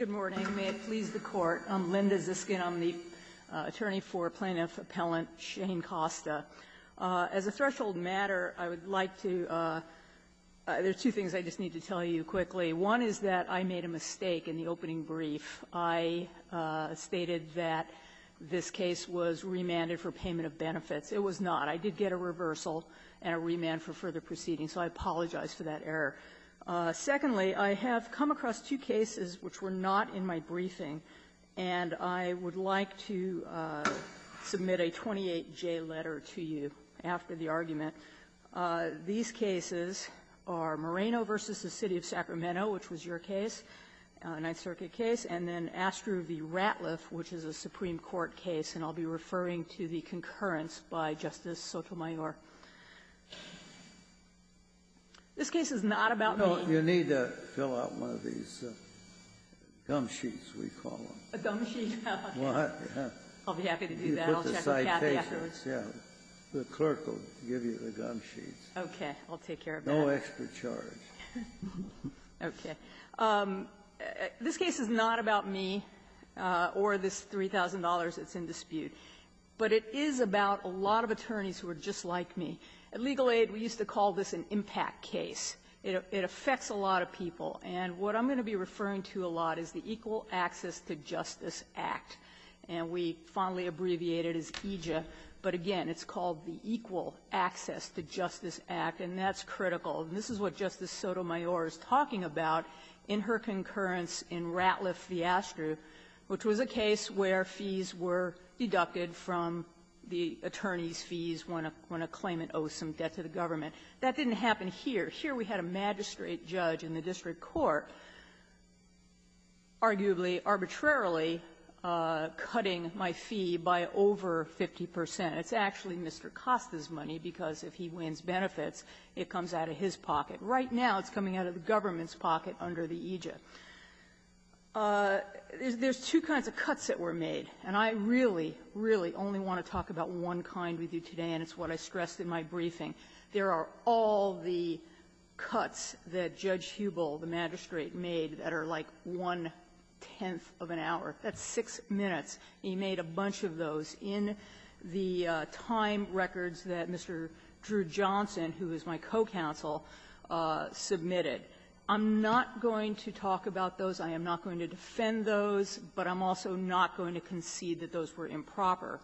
Good morning, may it please the Court. I'm Linda Ziskin. I'm the attorney for Plaintiff Appellant Shane Costa. As a threshold matter, I would like to, there's two things I just need to tell you quickly. One is that I made a mistake in the opening brief. I stated that this case was remanded for payment of benefits. It was not. I did get a reversal and a remand for further proceedings, so I apologize for that error. Secondly, I have come across two cases which were not in my briefing. And I would like to submit a 28-J letter to you after the argument. These cases are Moreno v. the City of Sacramento, which was your case, a Ninth Circuit case, and then Astro v. Ratliff, which is a Supreme Court case, and I'll be referring to the concurrence by Justice Sotomayor. This case is not about me. No, you need to fill out one of these gum sheets, we call them. A gum sheet? What? I'll be happy to do that. You put the citation. Yeah. The clerk will give you the gum sheets. Okay. I'll take care of that. No extra charge. Okay. This case is not about me or this $3,000 that's in dispute. But it is about a lot of attorneys who are just like me. At Legal Aid, we used to call this an impact case. It affects a lot of people. And what I'm going to be referring to a lot is the Equal Access to Justice Act, and we fondly abbreviate it as EJA. But again, it's called the Equal Access to Justice Act, and that's critical. And this is what Justice Sotomayor is talking about in her concurrence in Ratliff v. Astro, which was a case where fees were deducted from the attorney's fees when a claimant owes some debt to the government. That didn't happen here. Here we had a magistrate judge in the district court arguably arbitrarily cutting my fee by over 50 percent. It's actually Mr. Costa's money because if he wins benefits, it comes out of his pocket. Right now, it's coming out of the government's pocket under the EJA. There's two kinds of cuts that were made, and I really, really only want to talk about one kind with you today, and it's what I stressed in my briefing. There are all the cuts that Judge Hubel, the magistrate, made that are like one-tenth of an hour. That's six minutes. He made a bunch of those in the time records that Mr. Drew Johnson, who is my co-counsel, submitted. I'm not going to talk about those. I am not going to defend those, but I'm also not going to concede that those were improper.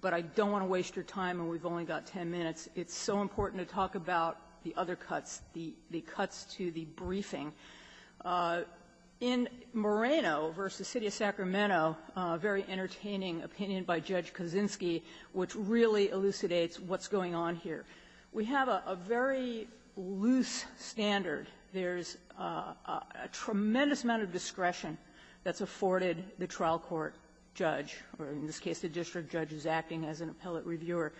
But I don't want to waste your time, and we've only got 10 minutes. It's so important to talk about the other cuts, the cuts to the briefing. In Moreno v. City of Sacramento, a very entertaining opinion by Judge Kaczynski, which really elucidates what's going on here. We have a very loose standard. There's a tremendous amount of discretion that's afforded the trial court judge, or in this case, the district judge who's acting as an appellate reviewer.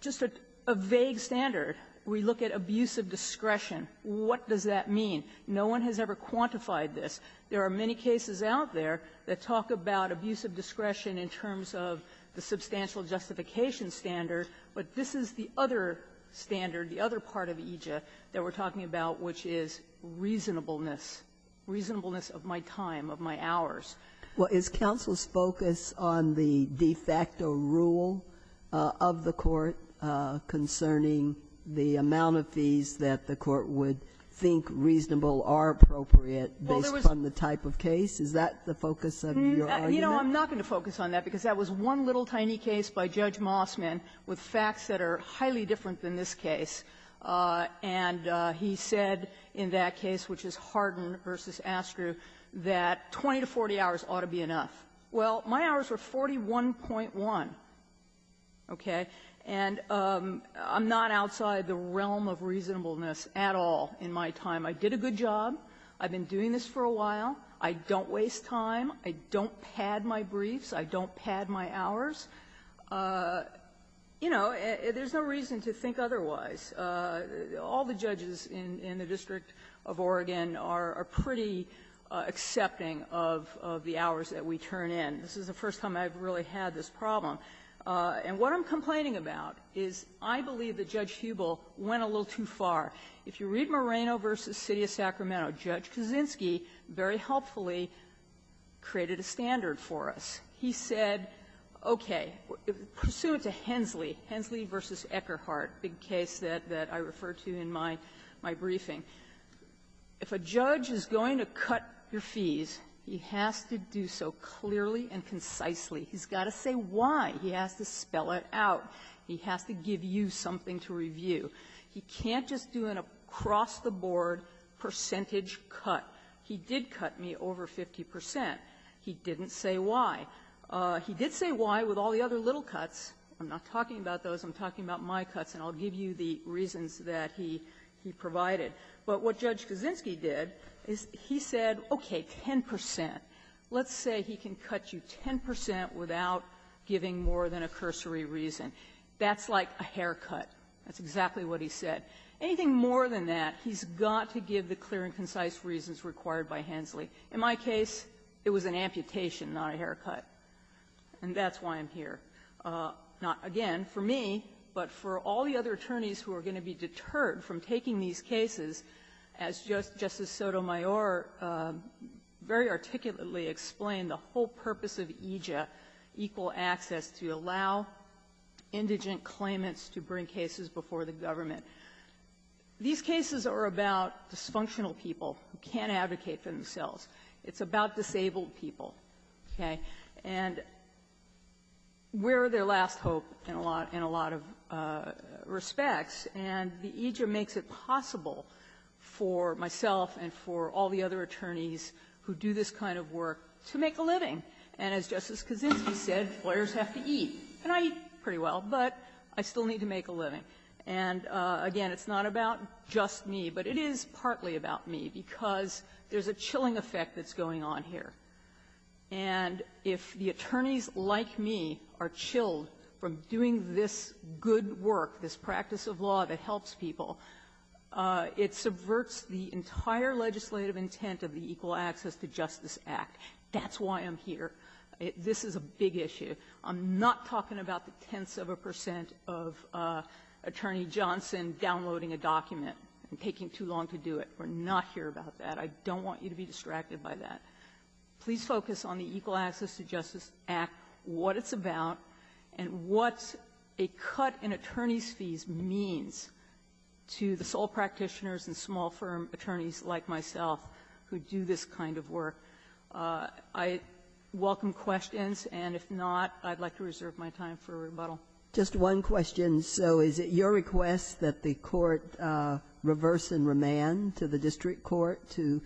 Just a vague standard, we look at abusive discretion. What does that mean? No one has ever quantified this. There are many cases out there that talk about abusive discretion in terms of the substantial justification standard, but this is the other standard, the other part of EJIA that we're talking about, which is reasonableness, reasonableness of my time, of my hours. Well, is counsel's focus on the de facto rule of the Court concerning the amount of fees that the Court would think reasonable or appropriate based on the type of case? Is that the focus of your argument? You know, I'm not going to focus on that, because that was one little tiny case by Judge Mossman with facts that are highly different than this case, and he said in that case, which is Hardin v. Astru, that 20 to 40 hours ought to be enough. Well, my hours were 41.1, okay? And I'm not outside the realm of reasonableness at all in my time. I did a good job. I've been doing this for a while. I don't wish to be a judge. I don't waste time. I don't pad my briefs. I don't pad my hours. You know, there's no reason to think otherwise. All the judges in the District of Oregon are pretty accepting of the hours that we turn in. This is the first time I've really had this problem. And what I'm complaining about is I believe that Judge Hubel went a little too far. If you read Moreno v. City of Sacramento, Judge Kuczynski very helpfully created a standard for us. He said, okay, pursuant to Hensley, Hensley v. Eckerhart, big case that I referred to in my briefing, if a judge is going to cut your fees, he has to do so clearly and concisely. He's got to say why. He has to spell it out. He has to give you something to review. He can't just do an across-the-board percentage cut. He did cut me over 50 percent. He didn't say why. He did say why with all the other little cuts. I'm not talking about those. I'm talking about my cuts, and I'll give you the reasons that he provided. But what Judge Kuczynski did is he said, okay, 10 percent. Let's say he can cut you 10 percent without giving more than a cursory reason. That's like a haircut. That's exactly what he said. Anything more than that, he's got to give the clear and concise reasons required by Hensley. In my case, it was an amputation, not a haircut. And that's why I'm here. Not, again, for me, but for all the other attorneys who are going to be deterred from taking these cases, as Justice Sotomayor very articulately explained, the whole purpose of EJIA, equal access, to allow indigent claimants to bring cases before the government. These cases are about dysfunctional people who can't advocate for themselves. It's about disabled people, okay? And we're their last hope in a lot of respects, and the EJIA makes it possible for myself and for all the other attorneys who do this kind of work to make a living. And as Justice Kuczynski said, lawyers have to eat. And I eat pretty well, but I still need to make a living. And, again, it's not about just me, but it is partly about me, because there's a chilling effect that's going on here. And if the attorneys like me are chilled from doing this good work, this practice of law that helps people, it subverts the entire legislative intent of the Equal Access to Justice Act. That's why I'm here. This is a big issue. I'm not talking about the tenths of a percent of Attorney Johnson downloading a document and taking too long to do it. We're not here about that. I don't want you to be distracted by that. Please focus on the Equal Access to Justice Act, what it's about, and what a cut in attorney's fees means to the sole practitioners and small firm attorneys like myself who do this kind of work. I welcome questions, and if not, I'd like to reserve my time for a rebuttal. JUSTICE GINSBURG Just one question. So is it your request that the Court reverse and remand to the district court to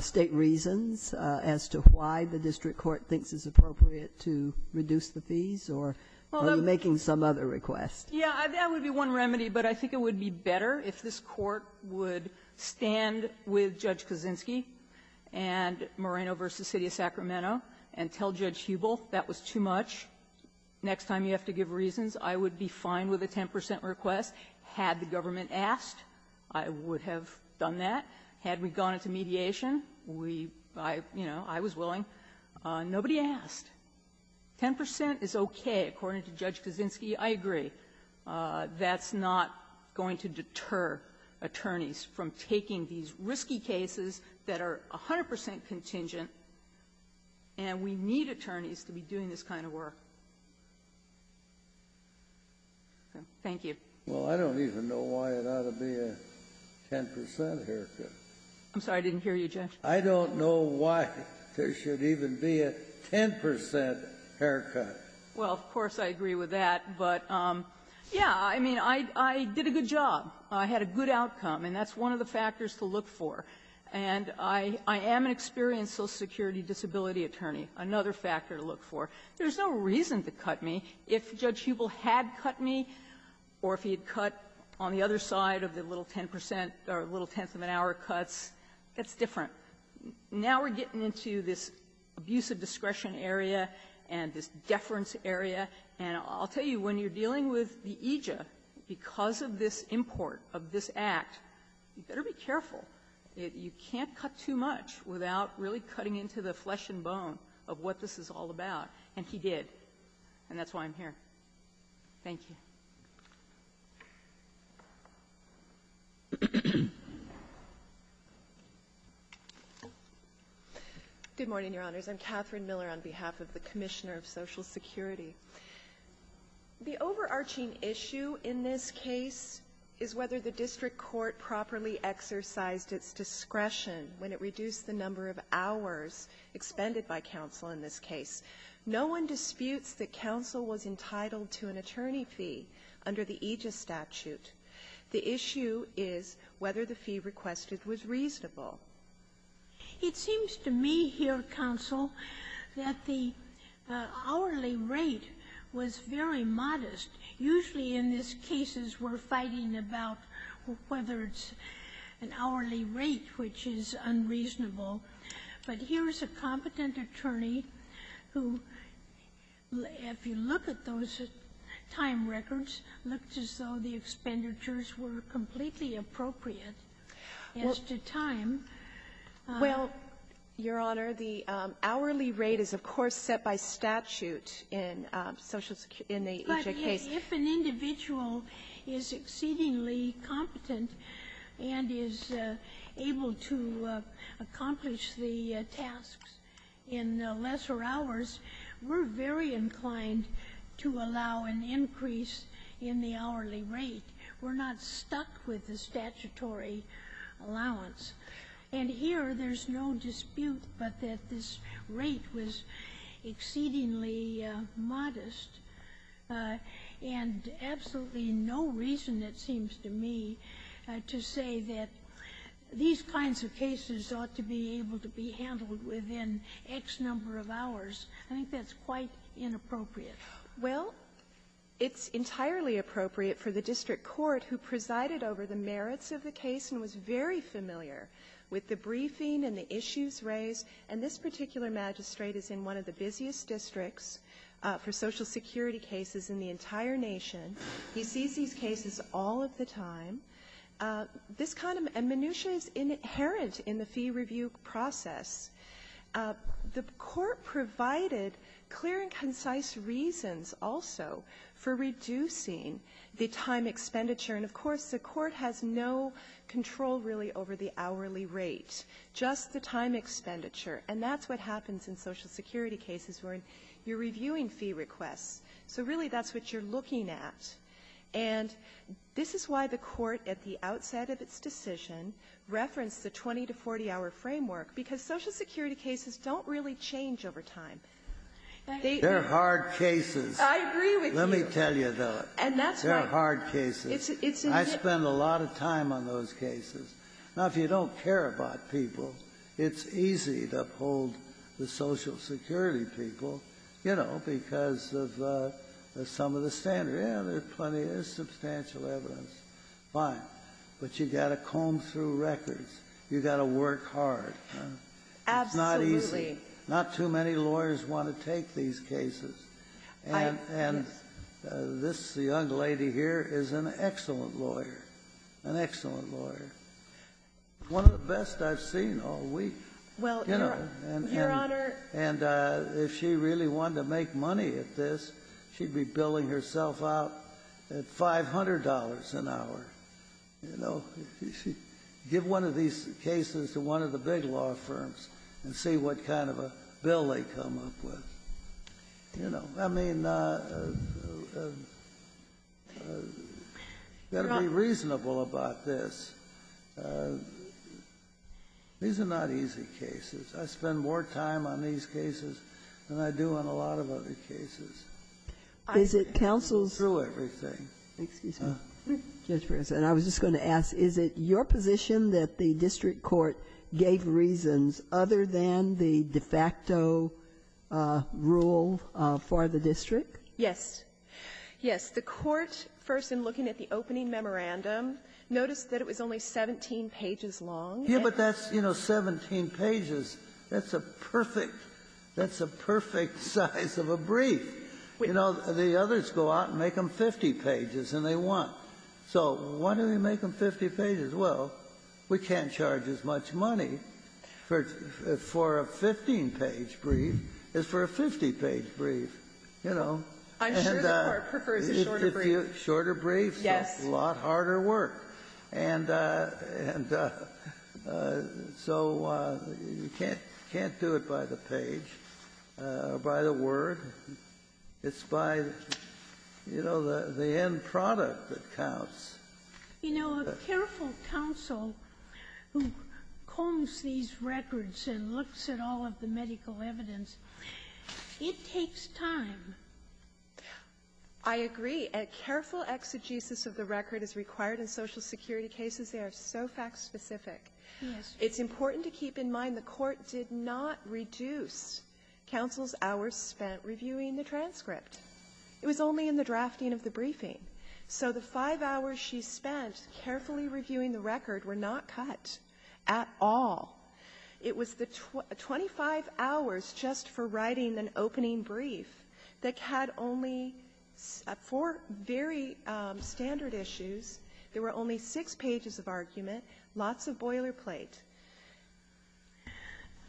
state reasons as to why the district court thinks it's appropriate to reduce the fees, or are you making some other request? MS. GINSBURG Yeah, that would be one remedy, but I think it would be better if this court would stand with Judge Kaczynski and Moreno v. City of Sacramento and tell Judge Hubel that was too much, next time you have to give reasons, I would be fine with a 10 percent request. Had the government asked, I would have done that. Had we gone into mediation, we – I, you know, I was willing. Nobody asked. Ten percent is okay, according to Judge Kaczynski. I agree. That's not going to deter attorneys from taking these risky cases that are 100 percent contingent, and we need attorneys to be doing this kind of work. Thank you. Well, I don't even know why it ought to be a 10 percent haircut. I'm sorry. I didn't hear you, Judge. I don't know why there should even be a 10 percent haircut. Well, of course, I agree with that, but, yeah, I mean, I did a good job. I had a good outcome, and that's one of the factors to look for. And I am an experienced Social Security disability attorney, another factor to look for. There's no reason to cut me. If Judge Hubel had cut me or if he had cut on the other side of the little 10 percent or little tenth-of-an-hour cuts, that's different. Now we're getting into this abuse of discretion area and this deference area. And I'll tell you, when you're dealing with the AJA, because of this import of this Act, you better be careful. You can't cut too much without really cutting into the flesh and bone of what this is all about. And he did. And that's why I'm here. Thank you. Good morning, Your Honors. I'm Catherine Miller on behalf of the Commissioner of Social Security. The overarching issue in this case is whether the District Court properly exercised its discretion when it reduced the number of hours expended by counsel in this case. No one disputes that counsel was entitled to an attorney fee under the AJA statute. The issue is whether the fee requested was reasonable. It seems to me here, counsel, that the hourly rate was very modest. Usually in these cases we're fighting about whether it's an hourly rate which is unreasonable. But here's a competent attorney who, if you look at those time records, looked as though the expenditures were completely appropriate as to time. Well, Your Honor, the hourly rate is, of course, set by statute in the AJA case. If an individual is exceedingly competent and is able to accomplish the tasks in lesser hours, we're very inclined to allow an increase in the hourly rate. We're not stuck with the statutory allowance. And here, there's no dispute but that this rate was exceedingly modest, and absolutely no reason, it seems to me, to say that these kinds of cases ought to be able to be handled within X number of hours. I think that's quite inappropriate. Well, it's entirely appropriate for the District Court, who presided over the merits of the case and was very familiar with the briefing and the issues raised, and this is true for Social Security cases in the entire nation. He sees these cases all of the time. This kind of minutia is inherent in the fee review process. The Court provided clear and concise reasons also for reducing the time expenditure. And, of course, the Court has no control, really, over the hourly rate, just the time of reviewing fee requests. So really, that's what you're looking at. And this is why the Court, at the outset of its decision, referenced the 20-to-40-hour framework, because Social Security cases don't really change over time. They are hard cases. I agree with you. Let me tell you, though. And that's why. They're hard cases. It's in the history. I spend a lot of time on those cases. Now, if you don't care about people, it's easy to uphold the Social Security people, you know, because of some of the standards. Yeah, there's plenty of substantial evidence. Fine. But you've got to comb through records. You've got to work hard. Absolutely. It's not easy. Not too many lawyers want to take these cases. I do. And this young lady here is an excellent lawyer, an excellent lawyer, one of the best I've seen all week. Well, Your Honor. And if she really wanted to make money at this, she'd be billing herself out at $500 an hour, you know. Give one of these cases to one of the big law firms and see what kind of a bill they come up with, you know. I mean, you've got to be reasonable about this. These are not easy cases. I spend more time on these cases than I do on a lot of other cases. Is it counsel's? Through everything. Excuse me. Judge Breyer. And I was just going to ask, is it your position that the district court gave reasons other than the de facto rule for the district? Yes. Yes, the court, first in looking at the opening memorandum, noticed that it was only 17 pages long. Yes, but that's, you know, 17 pages. That's a perfect — that's a perfect size of a brief. You know, the others go out and make them 50 pages, and they want. So why do we make them 50 pages? Well, we can't charge as much money for a 15-page brief as for a 50-page brief, you know. I'm sure the court prefers a shorter brief. Shorter brief. Yes. A lot harder work. And so you can't do it by the page or by the word. It's by, you know, the end product that counts. You know, a careful counsel who combs these records and looks at all of the medical evidence, it takes time. I agree. A careful exegesis of the record is required in Social Security cases. They are so fact-specific. Yes. It's important to keep in mind the court did not reduce counsel's hours spent reviewing the transcript. It was only in the drafting of the briefing. So the 5 hours she spent carefully reviewing the record were not cut at all. It was the 25 hours just for writing an opening brief that had only four very standard issues. There were only six pages of argument, lots of boilerplate.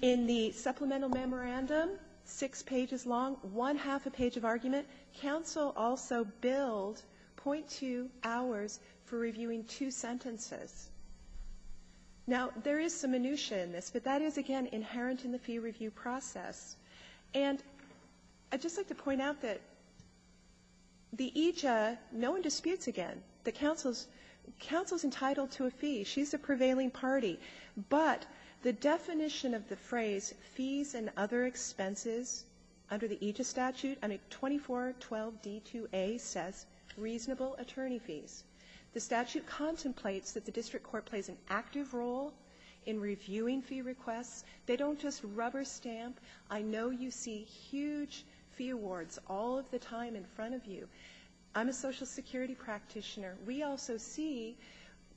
In the supplemental memorandum, six pages long, one-half a page of argument, counsel also billed .2 hours for reviewing two sentences. Now, there is some minutiae in this, but that is, again, inherent in the fee review process. And I'd just like to point out that the EJIA, no one disputes again that counsel is entitled to a fee. She's the prevailing party. But the definition of the phrase, fees and other expenses, under the EJIA statute, under 2412D2A says reasonable attorney fees. The statute contemplates that the district court plays an active role in reviewing fee requests. They don't just rubber stamp. I know you see huge fee awards all of the time in front of you. I'm a Social Security practitioner. We also see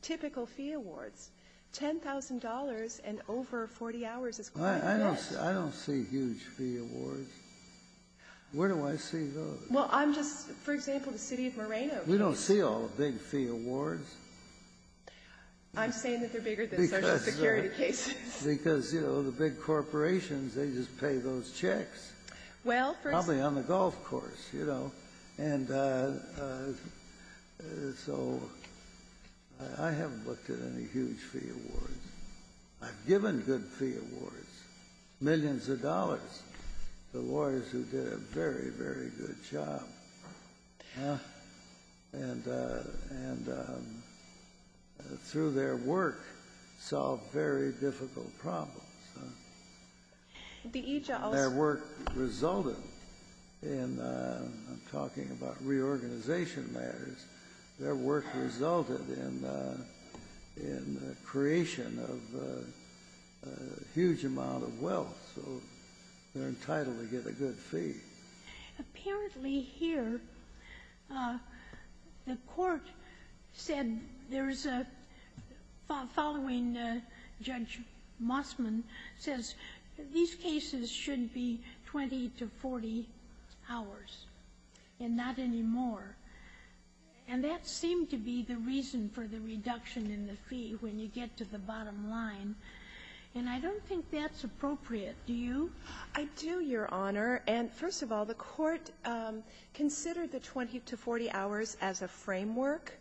typical fee awards. $10,000 and over 40 hours is quite a bit. I don't see huge fee awards. Where do I see those? Well, I'm just, for example, the city of Moreno. We don't see all the big fee awards. I'm saying that they're bigger than Social Security cases. Because, you know, the big corporations, they just pay those checks. Well, for instance. Probably on the golf course, you know. And so I haven't looked at any huge fee awards. I've given good fee awards, millions of dollars, to lawyers who did a very, very good job. And through their work, solved very difficult problems. Their work resulted in, I'm talking about reorganization matters, their work resulted in the creation of a huge amount of wealth. So they're entitled to get a good fee. Apparently here, the court said there's a, following Judge Mossman, says these cases should be 20 to 40 hours and not any more. And that seemed to be the reason for the reduction in the fee when you get to the bottom line. And I don't think that's appropriate. Do you? I do, Your Honor. And first of all, the court considered the 20 to 40 hours as a framework.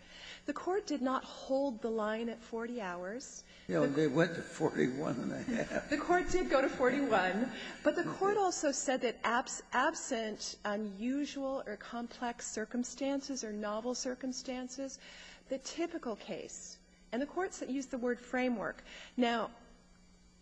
The court did not hold the line at 40 hours. They went to 41 and a half. The court did go to 41. But the court also said that absent unusual or complex circumstances or novel circumstances, the typical case, and the court used the word framework. Now,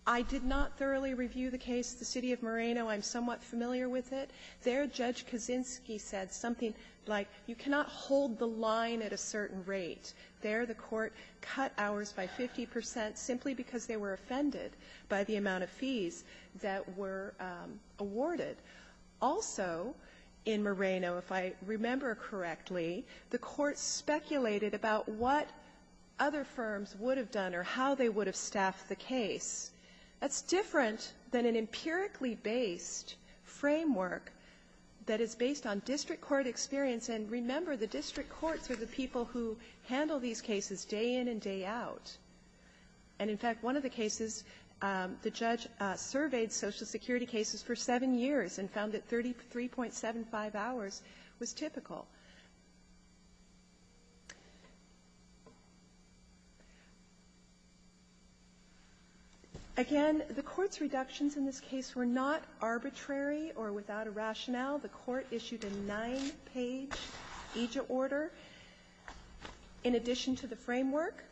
I did not thoroughly review the case. The City of Moreno, I'm somewhat familiar with it. There, Judge Kaczynski said something like, you cannot hold the line at a certain rate. There, the court cut hours by 50% simply because they were offended by the amount of fees that were awarded. Also, in Moreno, if I remember correctly, the court speculated about what other firms would have done or how they would have staffed the case. That's different than an empirically-based framework that is based on district court experience. And remember, the district courts are the people who handle these cases day in and day out. And in fact, one of the cases, the judge surveyed Social Security cases for seven years and found that 33.75 hours was typical. Again, the Court's reductions in this case were not arbitrary or without a rationale. The Court issued a nine-page AJA order. In addition to the framework,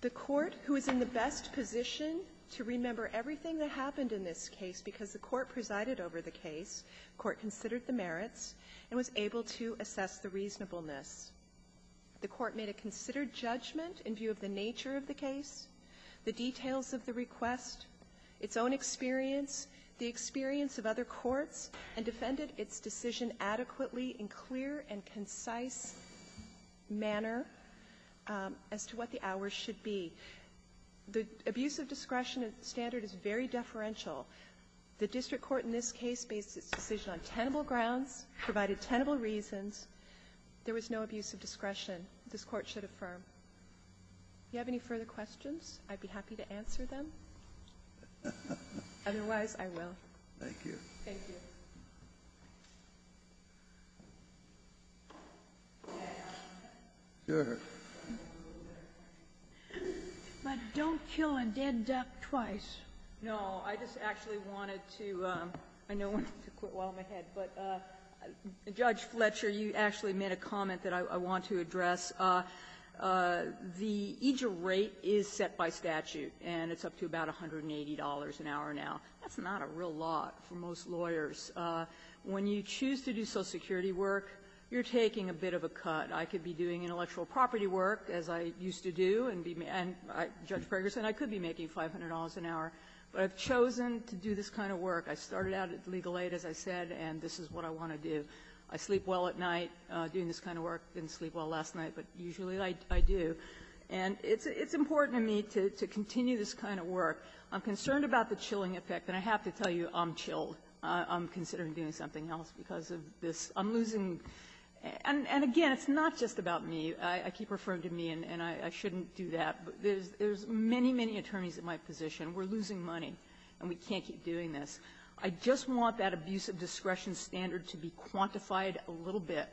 the Court, who is in the best position to remember everything that happened in this case because the Court presided over the case, the Court considered the merits and was able to assess the reasonableness. The Court made a considered judgment in view of the nature of the case, the details of the request, its own experience, the experience of other courts, and defended its decision adequately in clear and concise manner as to what the hours should be. The abuse of discretion standard is very deferential. The district court in this case based its decision on tenable grounds, provided tenable reasons. There was no abuse of discretion. This Court should affirm. Do you have any further questions? I'd be happy to answer them. Otherwise, I will. Thank you. Thank you. But don't kill a dead duck twice. No. I just actually wanted to quit while I'm ahead. Judge Fletcher, you actually made a comment that I want to address. The AJA rate is set by statute, and it's up to about $180 an hour now. That's not a real lot for most lawyers. When you choose to do Social Security work, you're taking a bit of a cut. I could be doing intellectual property work, as I used to do. Judge Gregerson, I could be making $500 an hour. But I've chosen to do this kind of work. I started out at legal aid, as I said, and this is what I want to do. I sleep well at night doing this kind of work. I didn't sleep well last night, but usually I do. And it's important to me to continue this kind of work. I'm concerned about the chilling effect, and I have to tell you I'm chilled. I'm considering doing something else because of this. I'm losing. And again, it's not just about me. I keep referring to me, and I shouldn't do that. There's many, many attorneys at my position. We're losing money, and we can't keep doing this. I just want that abuse of discretion standard to be quantified a little bit.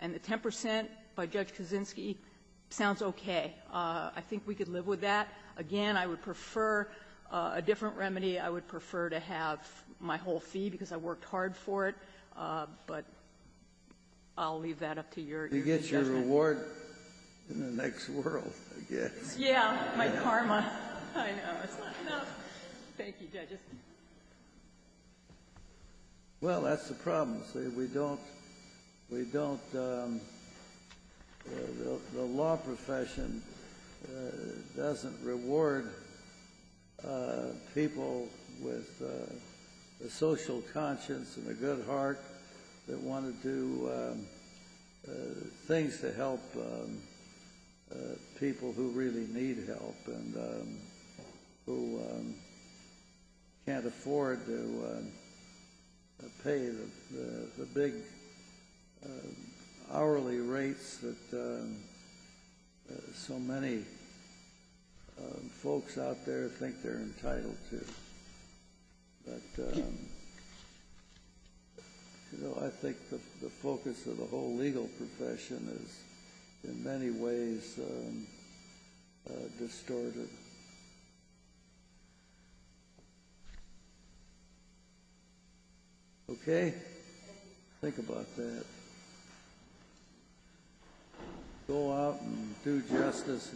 And the 10 percent by Judge Kaczynski sounds okay. I think we could live with that. Again, I would prefer a different remedy. I would prefer to have my whole fee because I worked hard for it. But I'll leave that up to your judgment. Reward in the next world, I guess. Yeah. My karma. I know. It's not enough. Thank you, Judge. Well, that's the problem. See, we don't – the law profession doesn't reward people with a social conscience and a good heart that want to do things to help people who really need help and who can't afford to pay the big hourly rates that so many folks out there think they're entitled to. But, you know, I think the focus of the whole legal profession is in many ways distorted. Okay. Think about that. Go out and do justice.